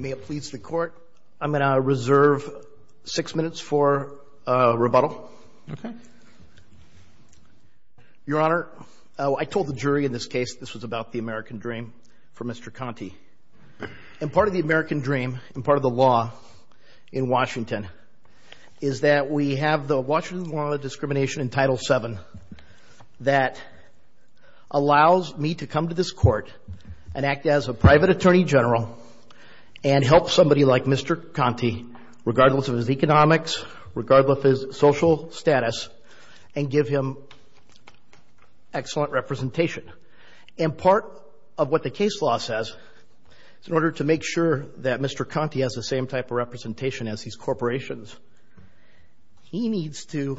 May it please the court I'm going to reserve six minutes for rebuttal. Okay. Your Honor, I told the jury in this case this was about the American dream for Mr. Conti and part of the American dream and part of the law in Washington is that we have the Washington law of discrimination in Title 7 that allows me to come to this court and act as a private attorney general and help somebody like Mr. Conti regardless of his economics regardless of his social status and give him excellent representation and part of what the case law says in order to make sure that Mr. Conti has the same type of representation as these corporations he needs to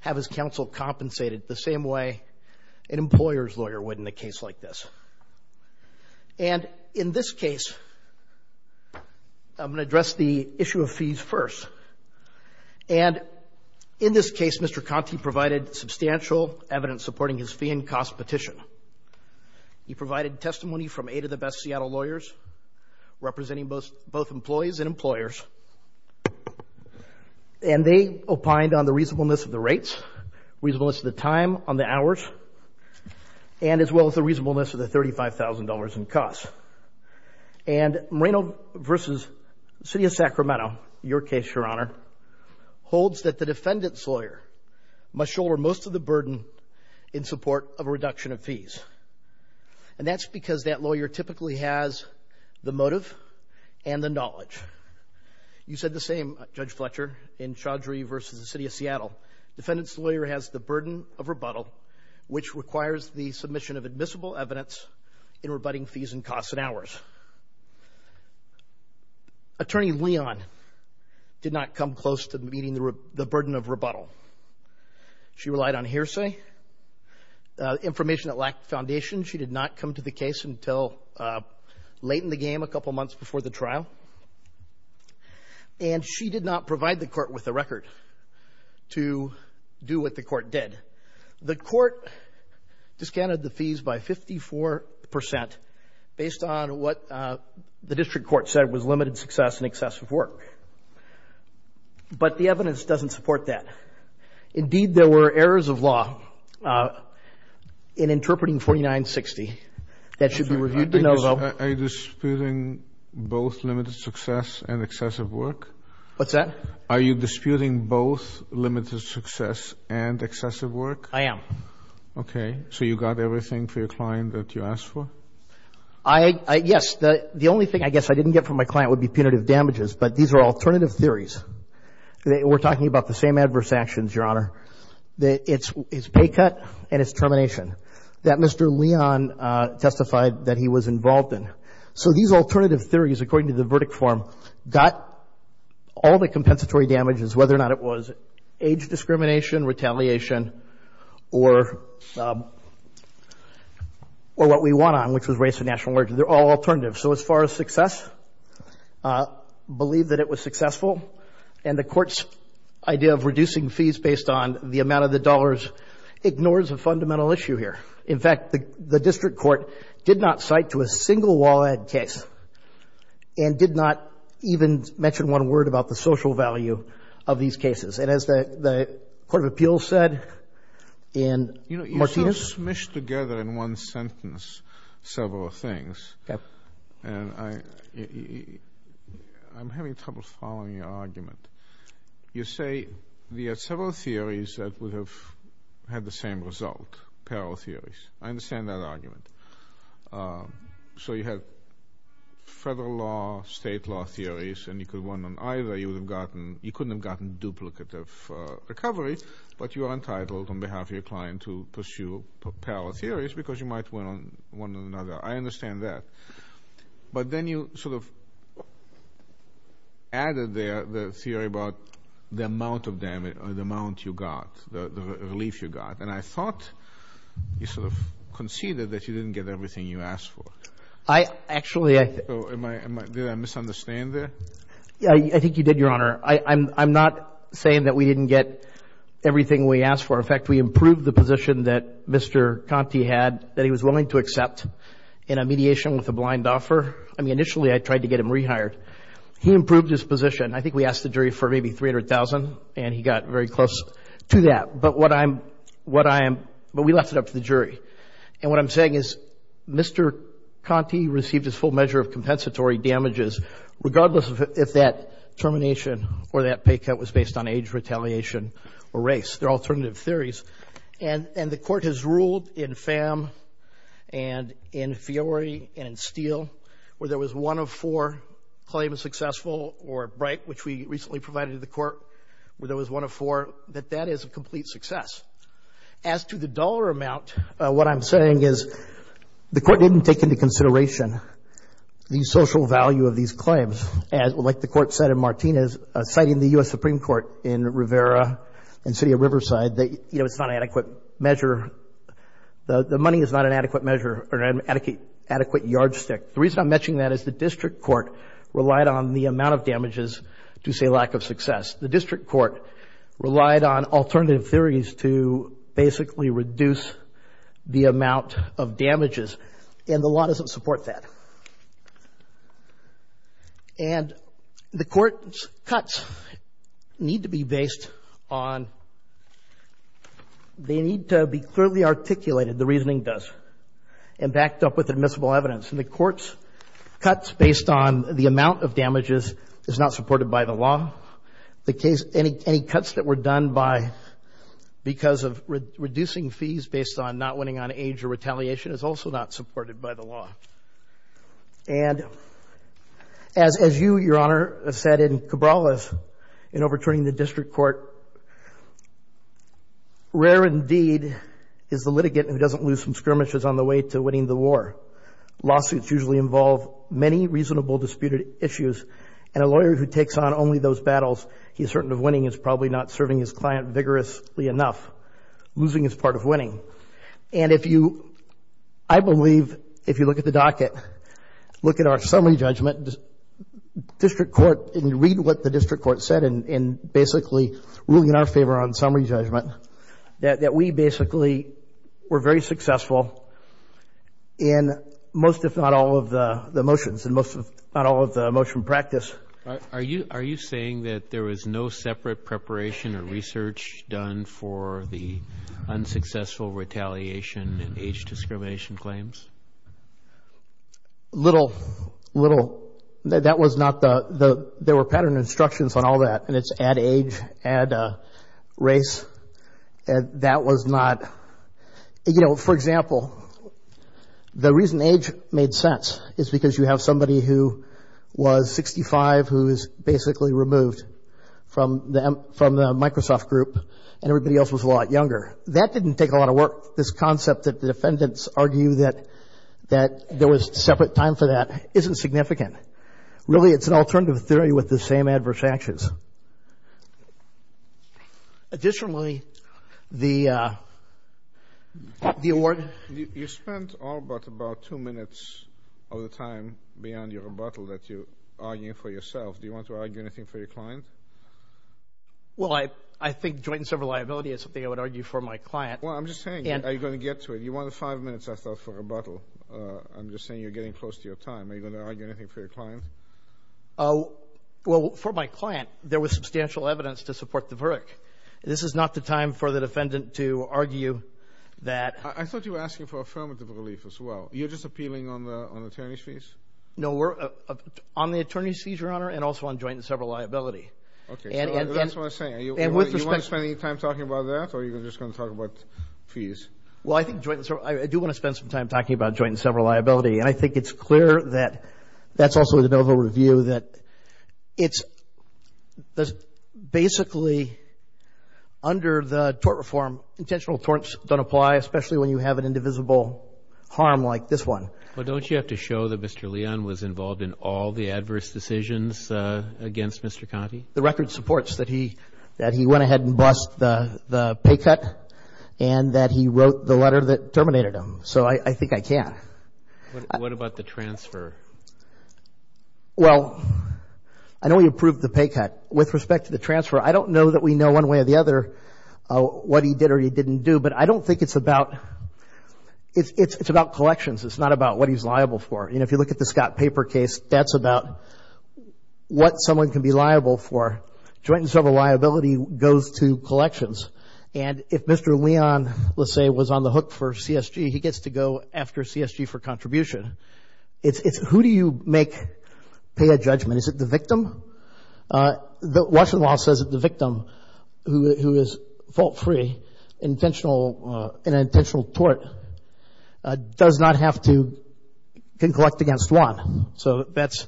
have his counsel compensated the same way an employer's lawyer would in a case like this and in this case I'm gonna address the issue of fees first and in this case Mr. Conti provided substantial evidence supporting his fee and cost petition he provided testimony from eight of the best Seattle lawyers representing both both employees and employers and they opined on the reasonableness of the rates reasonableness of the time on the hours and as well as the reasonableness of the $35,000 in costs and Moreno versus City of Sacramento your case your honor holds that the defendant's lawyer must shoulder most of the burden in support of a reduction of fees and that's because that lawyer typically has the motive and the knowledge you said the same judge Fletcher in Chaudhry versus the City of Seattle defendants lawyer has the burden of rebuttal which requires the submission of admissible evidence in rebutting fees and costs and hours attorney Leon did not come close to meeting the burden of rebuttal she relied on hearsay information that lacked foundation she did not come to the case until late in the game a couple months before the trial and she did not provide the court with a record to do what the court did the court discounted the fees by 54% based on what the district court said was limited success and excessive work but the evidence doesn't support that indeed there were errors of law in interpreting 4960 that should be reviewed to know though I disputing both limited success and excessive work are you disputing both limited success and excessive work I am okay so you got everything for your client that you asked for I guess the only thing I guess I didn't get from my client would be punitive damages but these are alternative theories we're talking about the same adverse actions your honor the it's his pay cut and it's involved in so these alternative theories according to the verdict form got all the compensatory damages whether or not it was age discrimination retaliation or or what we want on which is race and national origin they're all alternative so as far as success believe that it was successful and the court's idea of reducing fees based on the amount of the dollars ignores a single wallet case and did not even mention one word about the social value of these cases and as the Court of Appeals said and you know you smush together in one sentence several things I'm having trouble following your argument you say the at several theories that would have had the same result parallel theories I understand that so you have federal law state law theories and you could one on either you would have gotten you couldn't have gotten duplicate of recovery but you are entitled on behalf of your client to pursue parallel theories because you might want one another I understand that but then you sort of added there the theory about the amount of damage or the amount you got the relief you got and I thought you sort of conceded that you didn't get everything you asked for I actually I misunderstand there yeah I think you did your honor I'm not saying that we didn't get everything we asked for in fact we improved the position that mr. Conti had that he was willing to accept in a mediation with a blind offer I mean initially I tried to get him rehired he improved his position I think we asked the jury for maybe 300,000 and he got very close to that but what I'm what I am but we left it up to the jury and what I'm saying is mr. Conti received his full measure of compensatory damages regardless of if that termination or that pay cut was based on age retaliation or race they're alternative theories and and the court has ruled in fam and in theory and in steel where there was one of four claim is successful or bright which we recently provided the court where there was one of four that that is a complete success as to the dollar amount what I'm saying is the court didn't take into consideration the social value of these claims as well like the court said in Martinez citing the US Supreme Court in Rivera and city of Riverside that you know it's not an adequate measure the money is not an adequate measure or an adequate adequate yardstick the reason I'm mentioning that is the district court relied on the amount of damages to say lack of success the district court relied on alternative theories to basically reduce the amount of damages and the law doesn't support that and the court cuts need to be based on they need to be clearly articulated the reasoning does and backed up with admissible evidence and the courts cuts based on the amount of damages is not supported by the law the case any any cuts that were done by because of reducing fees based on not winning on age or retaliation is also not supported by the law and as as you your honor said in Cabral is in overturning the district court rare indeed is the litigant who doesn't lose some skirmishes on the way to winning the war lawsuits usually involve many reasonable disputed issues and a lawyer who takes on only those battles he's certain of winning is probably not serving his client vigorously enough losing is part of winning and if you I believe if you look at the docket look at our summary judgment district court and you read what the district court said and basically ruling in our favor on summary judgment that we basically were very successful in most if not all of the motions and most of not all of the motion practice are you are you saying that there was no separate preparation or research done for the unsuccessful retaliation and age discrimination claims little little that was not the the there were pattern instructions on all that and it's at age and race and that was not you know for example the reason age made sense is because you have somebody who was 65 who is basically removed from them from the Microsoft group and everybody else was a lot younger that didn't take a lot of work this concept that the defendants argue that that there was separate time for that isn't significant really it's an alternative theory with the same adverse actions additionally the the you spent all but about two minutes of the time beyond your rebuttal that you are you for yourself do you want to argue anything for your client well I I think joint and several liability is something I would argue for my client well I'm just saying yeah are you going to get to it you want to five minutes I thought for a bottle I'm just saying you're getting close to your time are you gonna argue anything for your client oh well for my client there was substantial evidence to support the brick this is not the time for the relief as well you're just appealing on the attorneys fees no we're on the attorney's fees your honor and also on joint and several liability and with the spending time talking about that or you're just going to talk about fees well I think joint I do want to spend some time talking about joint and several liability and I think it's clear that that's also the noble review that it's basically under the tort reform intentional torts don't apply especially when you have an indivisible harm like this one well don't you have to show that mr. Leon was involved in all the adverse decisions against mr. Conte the record supports that he that he went ahead and bust the the pay cut and that he wrote the letter that terminated him so I think I can what about the transfer well I know he approved the pay cut with respect to the transfer I don't know that we know one way or the other what he did or he didn't do but I don't think it's about it's about collections it's not about what he's liable for you know if you look at the Scott paper case that's about what someone can be liable for joint and several liability goes to collections and if mr. Leon let's say was on the hook for CSG he gets to go after CSG for contribution it's it's who do you make pay a judgment is it the victim the Washington law says that the an intentional tort does not have to can collect against one so that's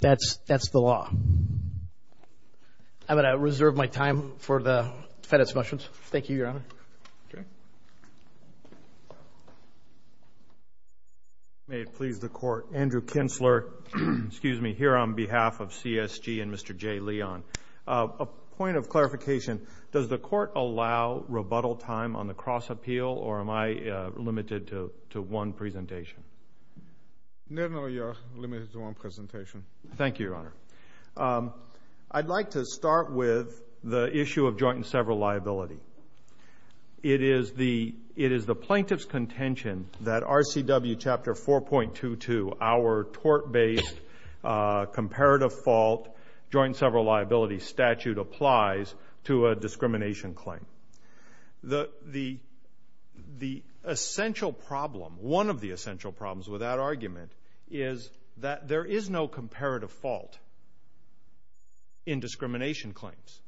that's that's the law I'm gonna reserve my time for the FedEx questions thank you your honor may it please the court Andrew Kinsler excuse me here on behalf of CSG and mr. J Leon a point of clarification does the court allow rebuttal time on the cross appeal or am I limited to one presentation no no you're limited to one presentation thank you your honor I'd like to start with the issue of joint and several liability it is the it is the plaintiff's contention that RCW chapter 4.22 our tort based comparative fault joint several liability statute to a discrimination claim the the the essential problem one of the essential problems with that argument is that there is no comparative fault in discrimination claims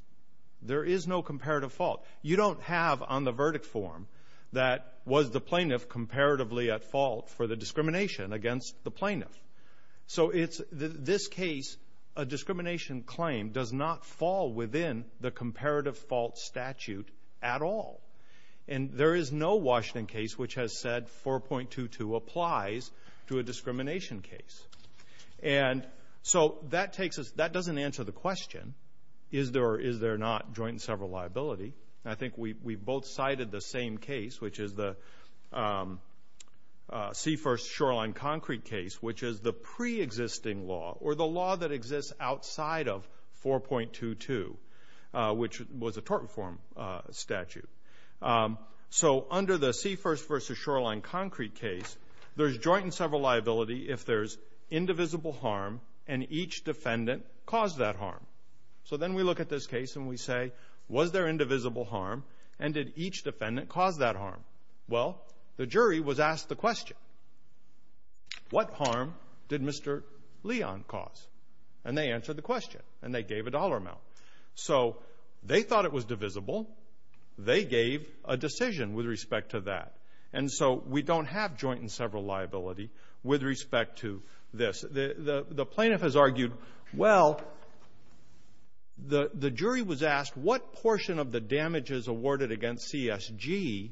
there is no comparative fault you don't have on the verdict form that was the plaintiff comparatively at fault for the discrimination against the plaintiff so it's this case a discrimination claim does not fall within the comparative fault statute at all and there is no Washington case which has said 4.22 applies to a discrimination case and so that takes us that doesn't answer the question is there is there not joint several liability I think we both cited the same case which is the seafirst shoreline concrete case which is the pre-existing law or the law that exists outside of 4.22 which was a tort reform statute so under the seafirst versus shoreline concrete case there's joint and several liability if there's indivisible harm and each defendant caused that harm so then we look at this case and we say was there indivisible harm and did each defendant cause that harm well the jury was asked the question what harm did mr. Leon cause and they answered the question and they gave a dollar amount so they thought it was divisible they gave a decision with respect to that and so we don't have joint and several liability with respect to this the the plaintiff has argued well the the jury was asked what portion of the damages awarded against CSG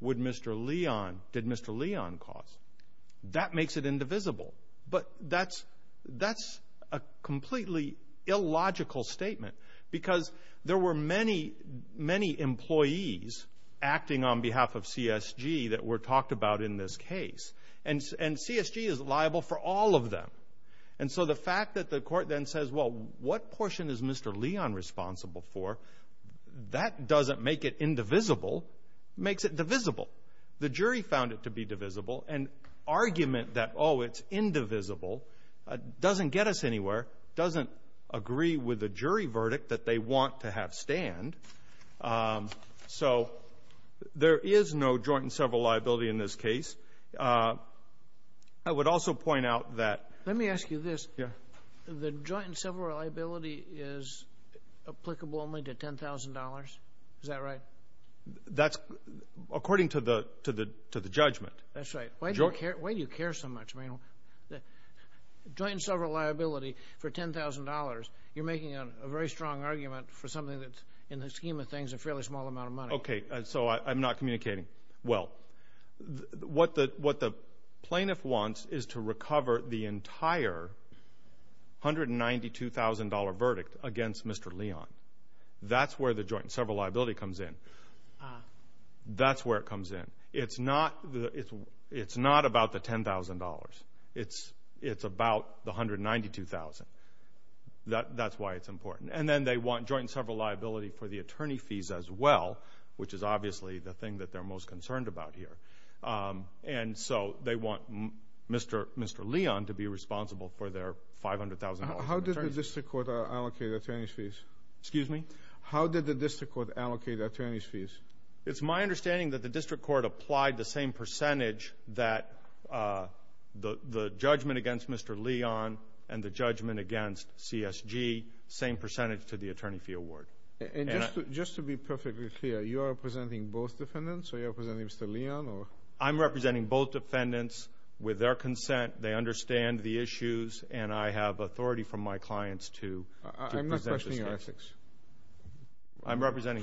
would mr. Leon did mr. Leon cause that makes it indivisible but that's that's a completely illogical statement because there were many many employees acting on behalf of CSG that were talked about in this case and and CSG is liable for all of them and so the fact that the court then says well what portion is mr. Leon responsible for that doesn't make it indivisible makes it divisible the jury found it to be divisible and argument that oh it's indivisible doesn't get us anywhere doesn't agree with the jury verdict that they want to have stand so there is no joint and several liability in this case I would also point out that let me ask you this yeah the joint and several liability is applicable only to $10,000 is that right that's according to the to the to the judgment that's right why do you care why do you care so much I mean the joint and several liability for $10,000 you're making a very strong argument for something that's in the scheme of things a fairly small amount of money okay and so I'm not communicating well what that what the plaintiff wants is to recover the entire $192,000 verdict against mr. Leon that's where the joint several liability comes in that's where it comes in it's not it's it's not about the $10,000 it's it's about the $192,000 that that's why it's important and then they want joint and several liability for the attorney fees as well which is obviously the thing that they're most concerned about here and so they want mr. mr. Leon to be responsible for their $500,000 how did the district court allocate attorney's fees excuse me how did the district court allocate attorney's fees it's my understanding that the district court applied the same percentage that the the judgment against mr. Leon and the judgment against CSG same percentage to the attorney fee award and just to be perfectly clear you representing both defendants so you're presenting mr. Leon or I'm representing both defendants with their consent they understand the issues and I have authority from my clients to I'm representing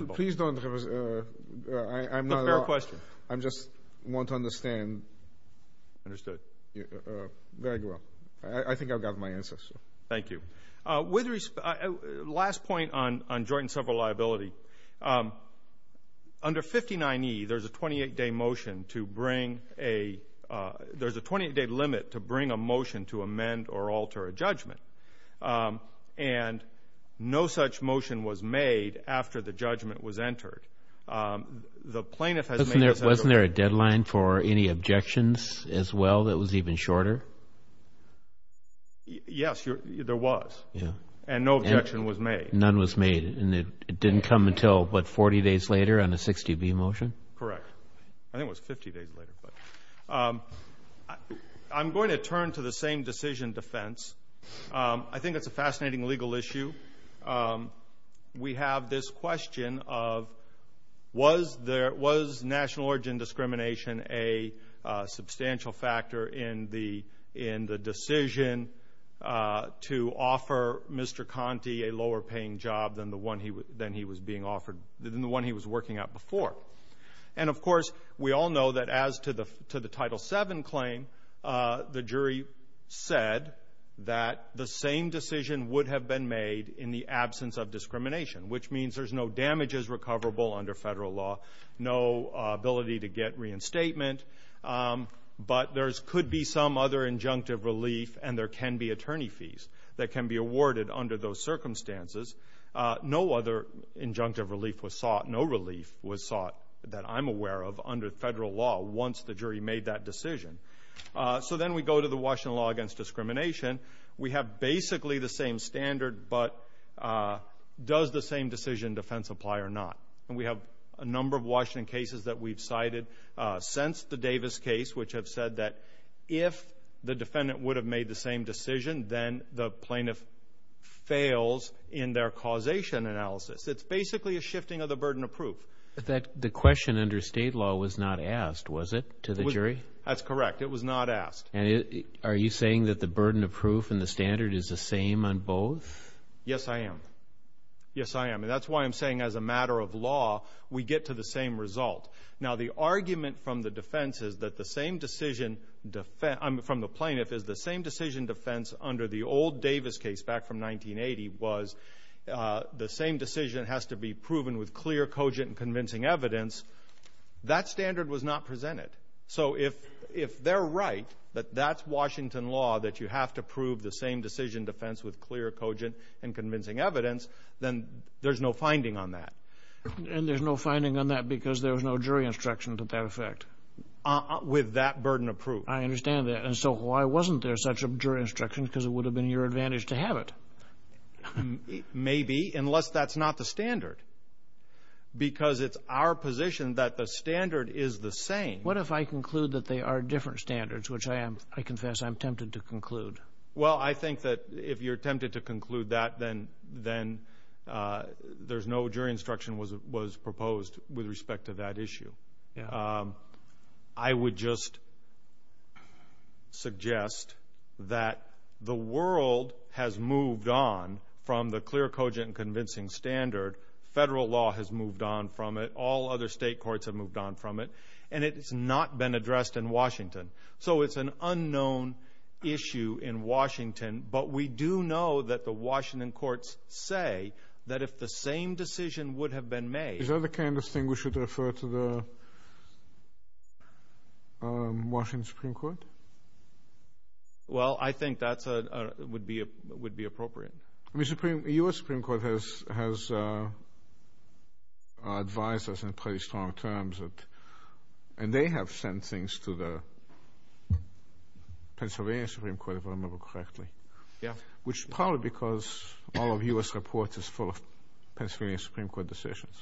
please don't I'm not a question I'm just want to understand understood yeah very well I think I've got my answer so thank you with respect last several liability under 59e there's a 28 day motion to bring a there's a 20 day limit to bring a motion to amend or alter a judgment and no such motion was made after the judgment was entered the plaintiff has there wasn't there a deadline for any objections as well that was even shorter yes you're there was and no objection was made none was made and it didn't come until but 40 days later on a 60 B motion correct I think was 50 days later but I'm going to turn to the same decision defense I think that's a fascinating legal issue we have this question of was there was national origin discrimination a substantial factor in the in the decision to offer mr. Conte a lower paying job than the one he was then he was being offered the one he was working out before and of course we all know that as to the to the title 7 claim the jury said that the same decision would have been made in the absence of discrimination which means there's no damages recoverable under federal law no ability to get reinstatement but there's could be some other injunctive relief and there can be attorney fees that can be awarded under those circumstances no other injunctive relief was sought no relief was sought that I'm aware of under federal law once the jury made that decision so then we go to the Washington law against discrimination we have basically the same standard but does the same decision defense apply or not and we have a number of Washington cases that we've cited since the Davis case which have said that if the defendant would have made the same decision then the plaintiff fails in their causation analysis it's basically a shifting of the burden of proof that the question under state law was not asked was it to the jury that's correct it was not asked and it are you saying that the burden of proof in the standard is the same on yes I am yes I am that's why I'm saying as a matter of law we get to the same result now the argument from the defense is that the same decision from the plaintiff is the same decision defense under the old Davis case back from 1980 was the same decision has to be proven with clear cogent convincing evidence that standard was not presented so if if they're right but that's Washington law that you have to prove the same decision defense with clear cogent and convincing evidence then there's no finding on that and there's no finding on that because there's no jury instruction to that effect with that burden of proof I understand that and so why wasn't there such a jury instruction because it would have been your advantage to have it maybe unless that's not the standard because it's our position that the standard is the same what if I conclude that they are different standards which I am I confess I'm tempted to conclude well I think that if you're tempted to conclude that then then there's no jury instruction was it was proposed with respect to that issue I would just suggest that the world has moved on from the clear cogent convincing standard federal law has moved on from it all other state courts have moved on from it and it's not been addressed in Washington so it's an unknown issue in Washington but we do know that the Washington courts say that if the same decision would have been made is that the kind of thing we should refer to the Washington Supreme Court well I think that's a would be a would be appropriate I mean supreme US Supreme Court has has advised us in pretty strong terms and they have sent things to the Pennsylvania Supreme Court if I remember correctly yeah which probably because all of US reports is full of Pennsylvania Supreme Court decisions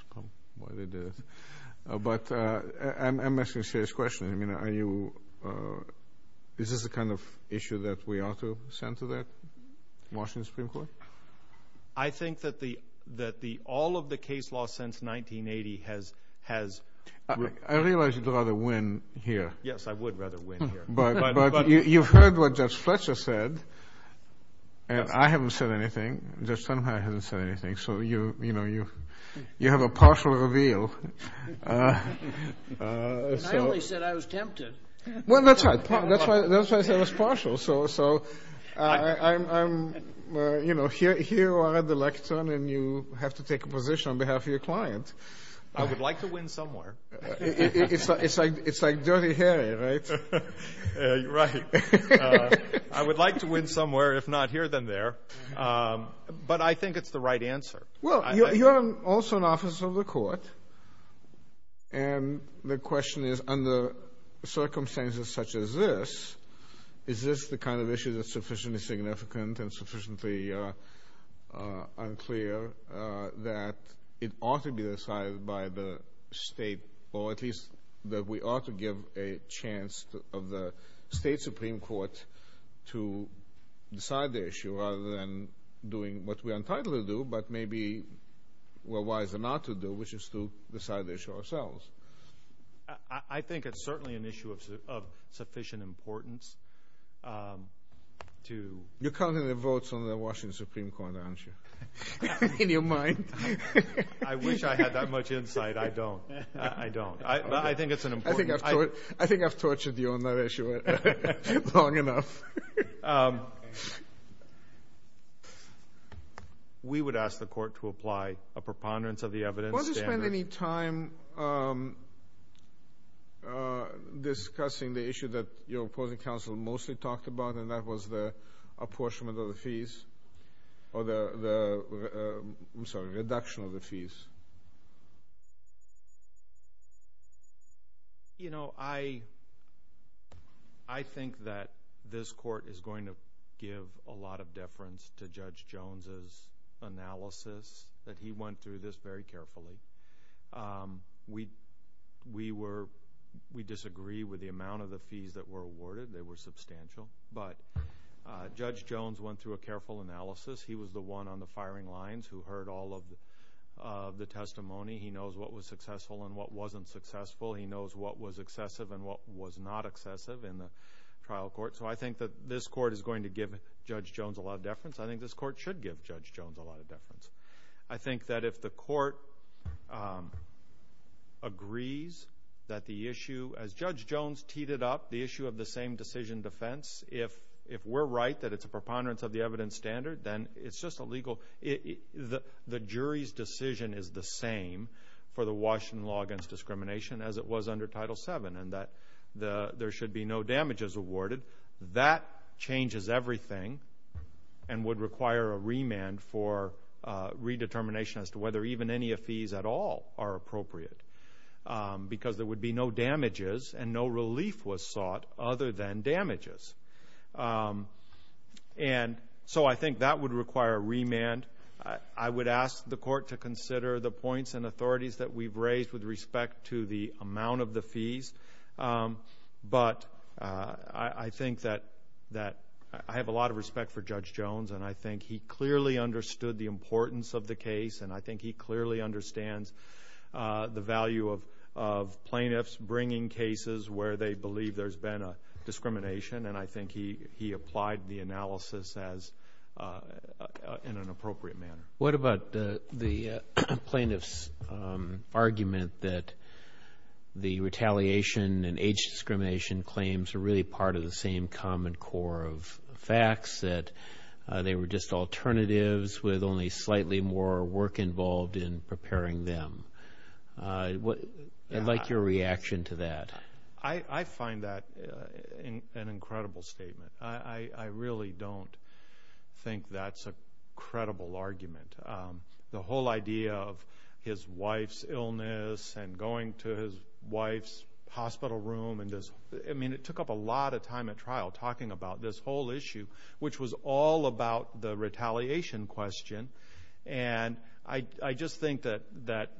but I'm asking serious questions I mean are you this is the kind of issue that we ought to send to that Washington Supreme Court I think that the that the all of the case law since 1980 has has I realize you'd rather win here yes I would rather win here but you've heard what Judge Fletcher said and I haven't said anything just somehow hasn't said anything so you you know you you have a partial reveal so I only said I was tempted well that's right that's why that's why I said it's partial so so I'm you know here here are the lectern and you have to take a position on behalf of your client I would like to win somewhere it's like it's like dirty hair right I would like to win somewhere if not here than there but I think it's the right answer well you're also an officer of the court and the question is under circumstances such as this is this the kind of issue that's sufficiently significant and sufficiently unclear that it ought to be decided by the state or at least that we ought to give a chance of the state Supreme Court to decide the issue rather than doing what we are entitled to do but maybe we're wise enough to do which is to decide ourselves I think it's certainly an issue of sufficient importance to you counting the votes on the Washington Supreme Court answer in your mind I wish I had that much insight I don't I don't I think it's an important I think I've tortured you on that issue long enough we would ask the court to apply a discussing the issue that your opposing counsel mostly talked about and that was the apportionment of the fees or the reduction of the fees you know I I think that this court is going to give a lot of deference to we we were we disagree with the amount of the fees that were awarded they were substantial but judge Jones went through a careful analysis he was the one on the firing lines who heard all of the testimony he knows what was successful and what wasn't successful he knows what was excessive and what was not excessive in the trial court so I think that this court is going to give judge Jones a lot of deference I think this court should give judge Jones a lot of deference I think that if the court agrees that the issue as judge Jones teed it up the issue of the same decision defense if if we're right that it's a preponderance of the evidence standard then it's just a legal the jury's decision is the same for the Washington law against discrimination as it was under title 7 and that the there should be no damages awarded that changes everything and would require a remand for redetermination as to whether even any of these at all are appropriate because there would be no damages and no relief was sought other than damages and so I think that would require remand I would ask the court to consider the points and authorities that we've raised with respect to the amount of the fees but I I think that that I have a lot of I think he clearly understood the importance of the case and I think he clearly understands the value of plaintiffs bringing cases where they believe there's been a discrimination and I think he he applied the analysis as in an appropriate manner what about the plaintiffs argument that the retaliation and age discrimination claims are really part of the same common core of facts that they were just alternatives with only slightly more work involved in preparing them what I'd like your reaction to that I I find that an incredible statement I I really don't think that's a credible argument the whole idea of his wife's illness and going to his wife's hospital room in this I mean it took up a lot of time at trial talking about this whole issue which was all about the retaliation question and I I just think that that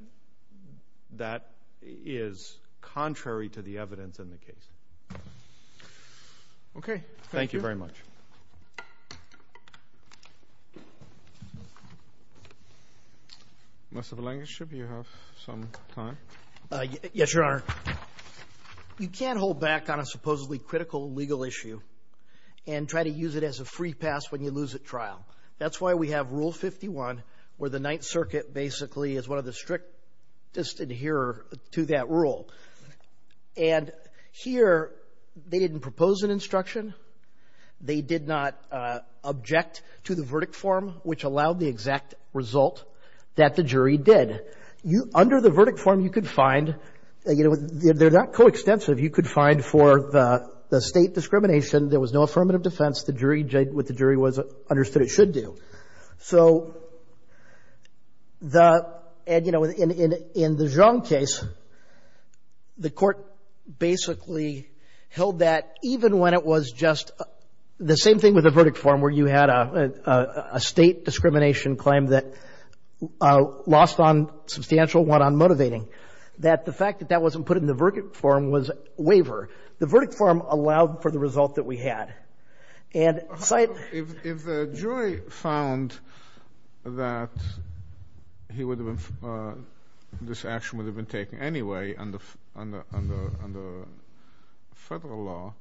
that is contrary to the evidence in the case okay thank you very much of a language should you have some time yes your honor you can't hold back on a supposedly critical legal issue and try to use it as a free pass when you lose at trial that's why we have rule 51 where the Ninth Circuit basically is one of the strictest adhere to that rule and here they didn't propose an instruction they did not object to the verdict form which allowed the exact result that the jury did you under the verdict form you could find you know they're not coextensive you could find for the state discrimination there was no affirmative defense the jury did what the jury was understood it should do so the and you know in the Zhang case the court basically held that even when it was just the same thing with a verdict form where you had a state discrimination claim that lost on substantial one on motivating that the fact that that wasn't put in the verdict form was waiver the verdict form allowed for the this action would have been taken anyway under federal law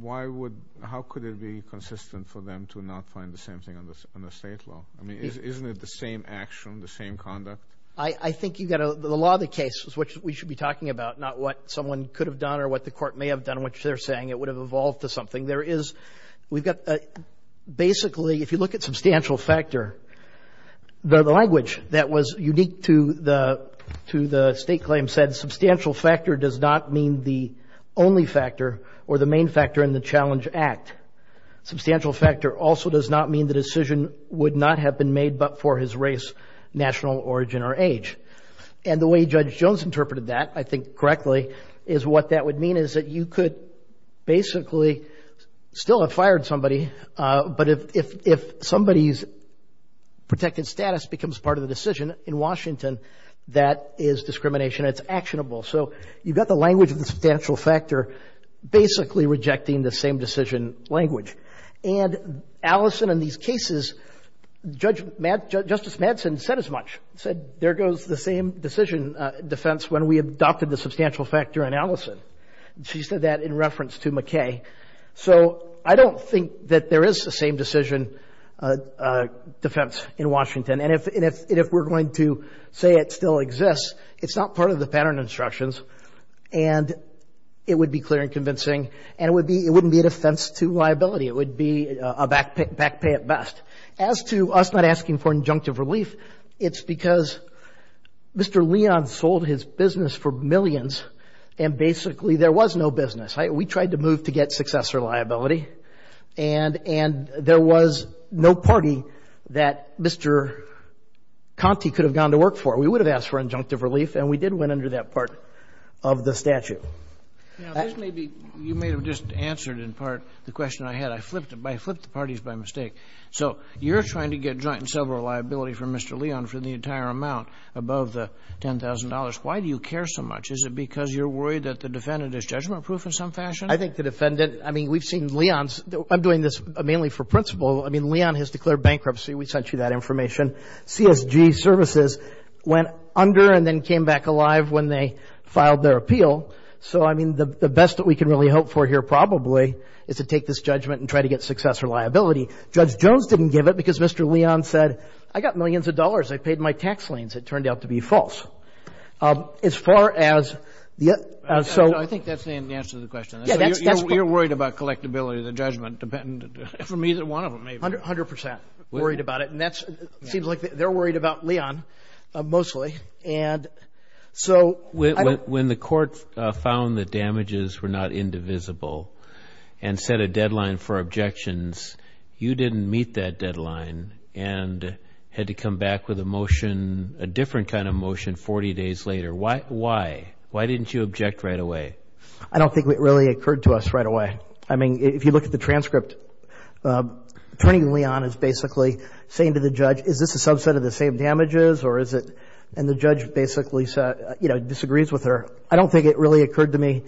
why would how could it be consistent for them to not find the same thing on this under state law I mean isn't it the same action the same conduct I I think you got a lot of the cases which we should be talking about not what someone could have done or what the court may have done which they're saying it would have evolved to something there is we've got basically if you look at substantial factor the language that was unique to the to the state claim said substantial factor does not mean the only factor or the main factor in the challenge act substantial factor also does not mean the decision would not have been made but for his race national origin or age and the way Judge Jones interpreted that I think correctly is what that would mean is that you could basically still have somebody but if if if somebody's protected status becomes part of the decision in Washington that is discrimination it's actionable so you got the language of the substantial factor basically rejecting the same decision language and Allison in these cases judge Matt justice Madsen said as much said there goes the same decision defense when we adopted the substantial factor analysis she said that in reference to McKay so I don't think that there is the same decision defense in Washington and if if we're going to say it still exists it's not part of the pattern instructions and it would be clear and convincing and it would be it wouldn't be an offense to liability it would be a back pick back pay at best as to us not asking for injunctive relief it's because mr. Leon sold his business for millions and basically there was no business right we tried to move to get successor liability and and there was no party that mr. Conti could have gone to work for we would have asked for injunctive relief and we did win under that part of the statute maybe you may have just answered in part the question I had I flipped it by flip the parties by mistake so you're trying to get joint and several liability from mr. Leon for the entire amount above the $10,000 why do you care so much is it because you're worried that the defendant is judgment proof in some fashion I think the defendant I mean we've seen Leon's I'm doing this mainly for principle I mean Leon has declared bankruptcy we sent you that information CSG services went under and then came back alive when they filed their appeal so I mean the best that we can really hope for here probably is to take this liability judge Jones didn't give it because mr. Leon said I got millions of dollars I paid my tax liens it turned out to be false as far as yeah so I think that's the answer the question you're worried about collectability the judgment dependent for me that one of them a hundred hundred percent worried about it and that's seems like they're worried about Leon mostly and so when the court found the damages were not indivisible and set a deadline for objections you didn't meet that deadline and had to come back with a motion a different kind of motion 40 days later why why why didn't you object right away I don't think it really occurred to us right away I mean if you look at the transcript turning Leon is basically saying to the judge is this a subset of the same damages or is it and the judge basically said you know disagrees with her I don't think it really occurred to me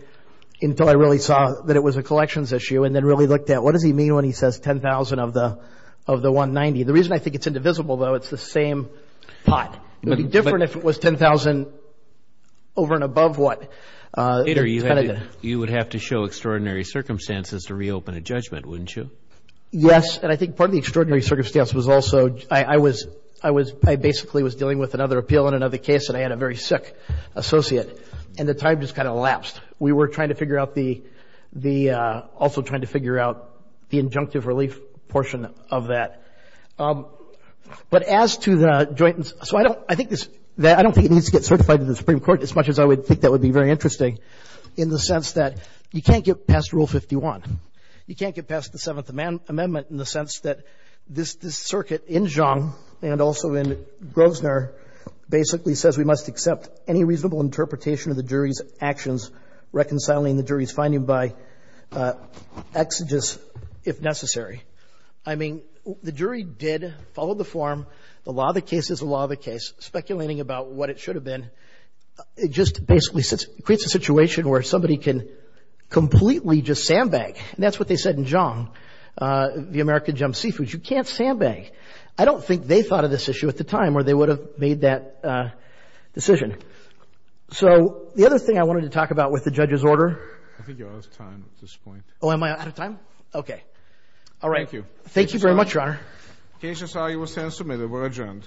until I really saw that it was a collections issue and then really looked at what does he mean when he says 10,000 of the of the 190 the reason I think it's indivisible though it's the same pot different if it was 10,000 over and above what you would have to show extraordinary circumstances to reopen a judgment wouldn't you yes and I think part of the extraordinary circumstance was also I was I was I basically was dealing with another appeal in another case and I had a very sick associate and the time just kind of elapsed we were trying to figure out the the also trying to figure out the injunctive relief portion of that but as to the joint so I don't I think this that I don't think it needs to get certified in the Supreme Court as much as I would think that would be very interesting in the sense that you can't get past rule 51 you can't get past the Seventh Amendment in the sense that this this circuit in Zhang and also in Grosvenor basically says we must accept any reasonable interpretation of the by exodus if necessary I mean the jury did follow the form a lot of the cases a lot of the case speculating about what it should have been it just basically sits creates a situation where somebody can completely just sandbag and that's what they said in Zhang the American jump seafood you can't sandbag I don't think they thought of this issue at the time where they would have made that decision so the other thing I wanted to talk about with the judge's order I think you're out of time at this point oh am I out of time okay all right thank you thank you very much your honor cases are you were sent to me they were adjourned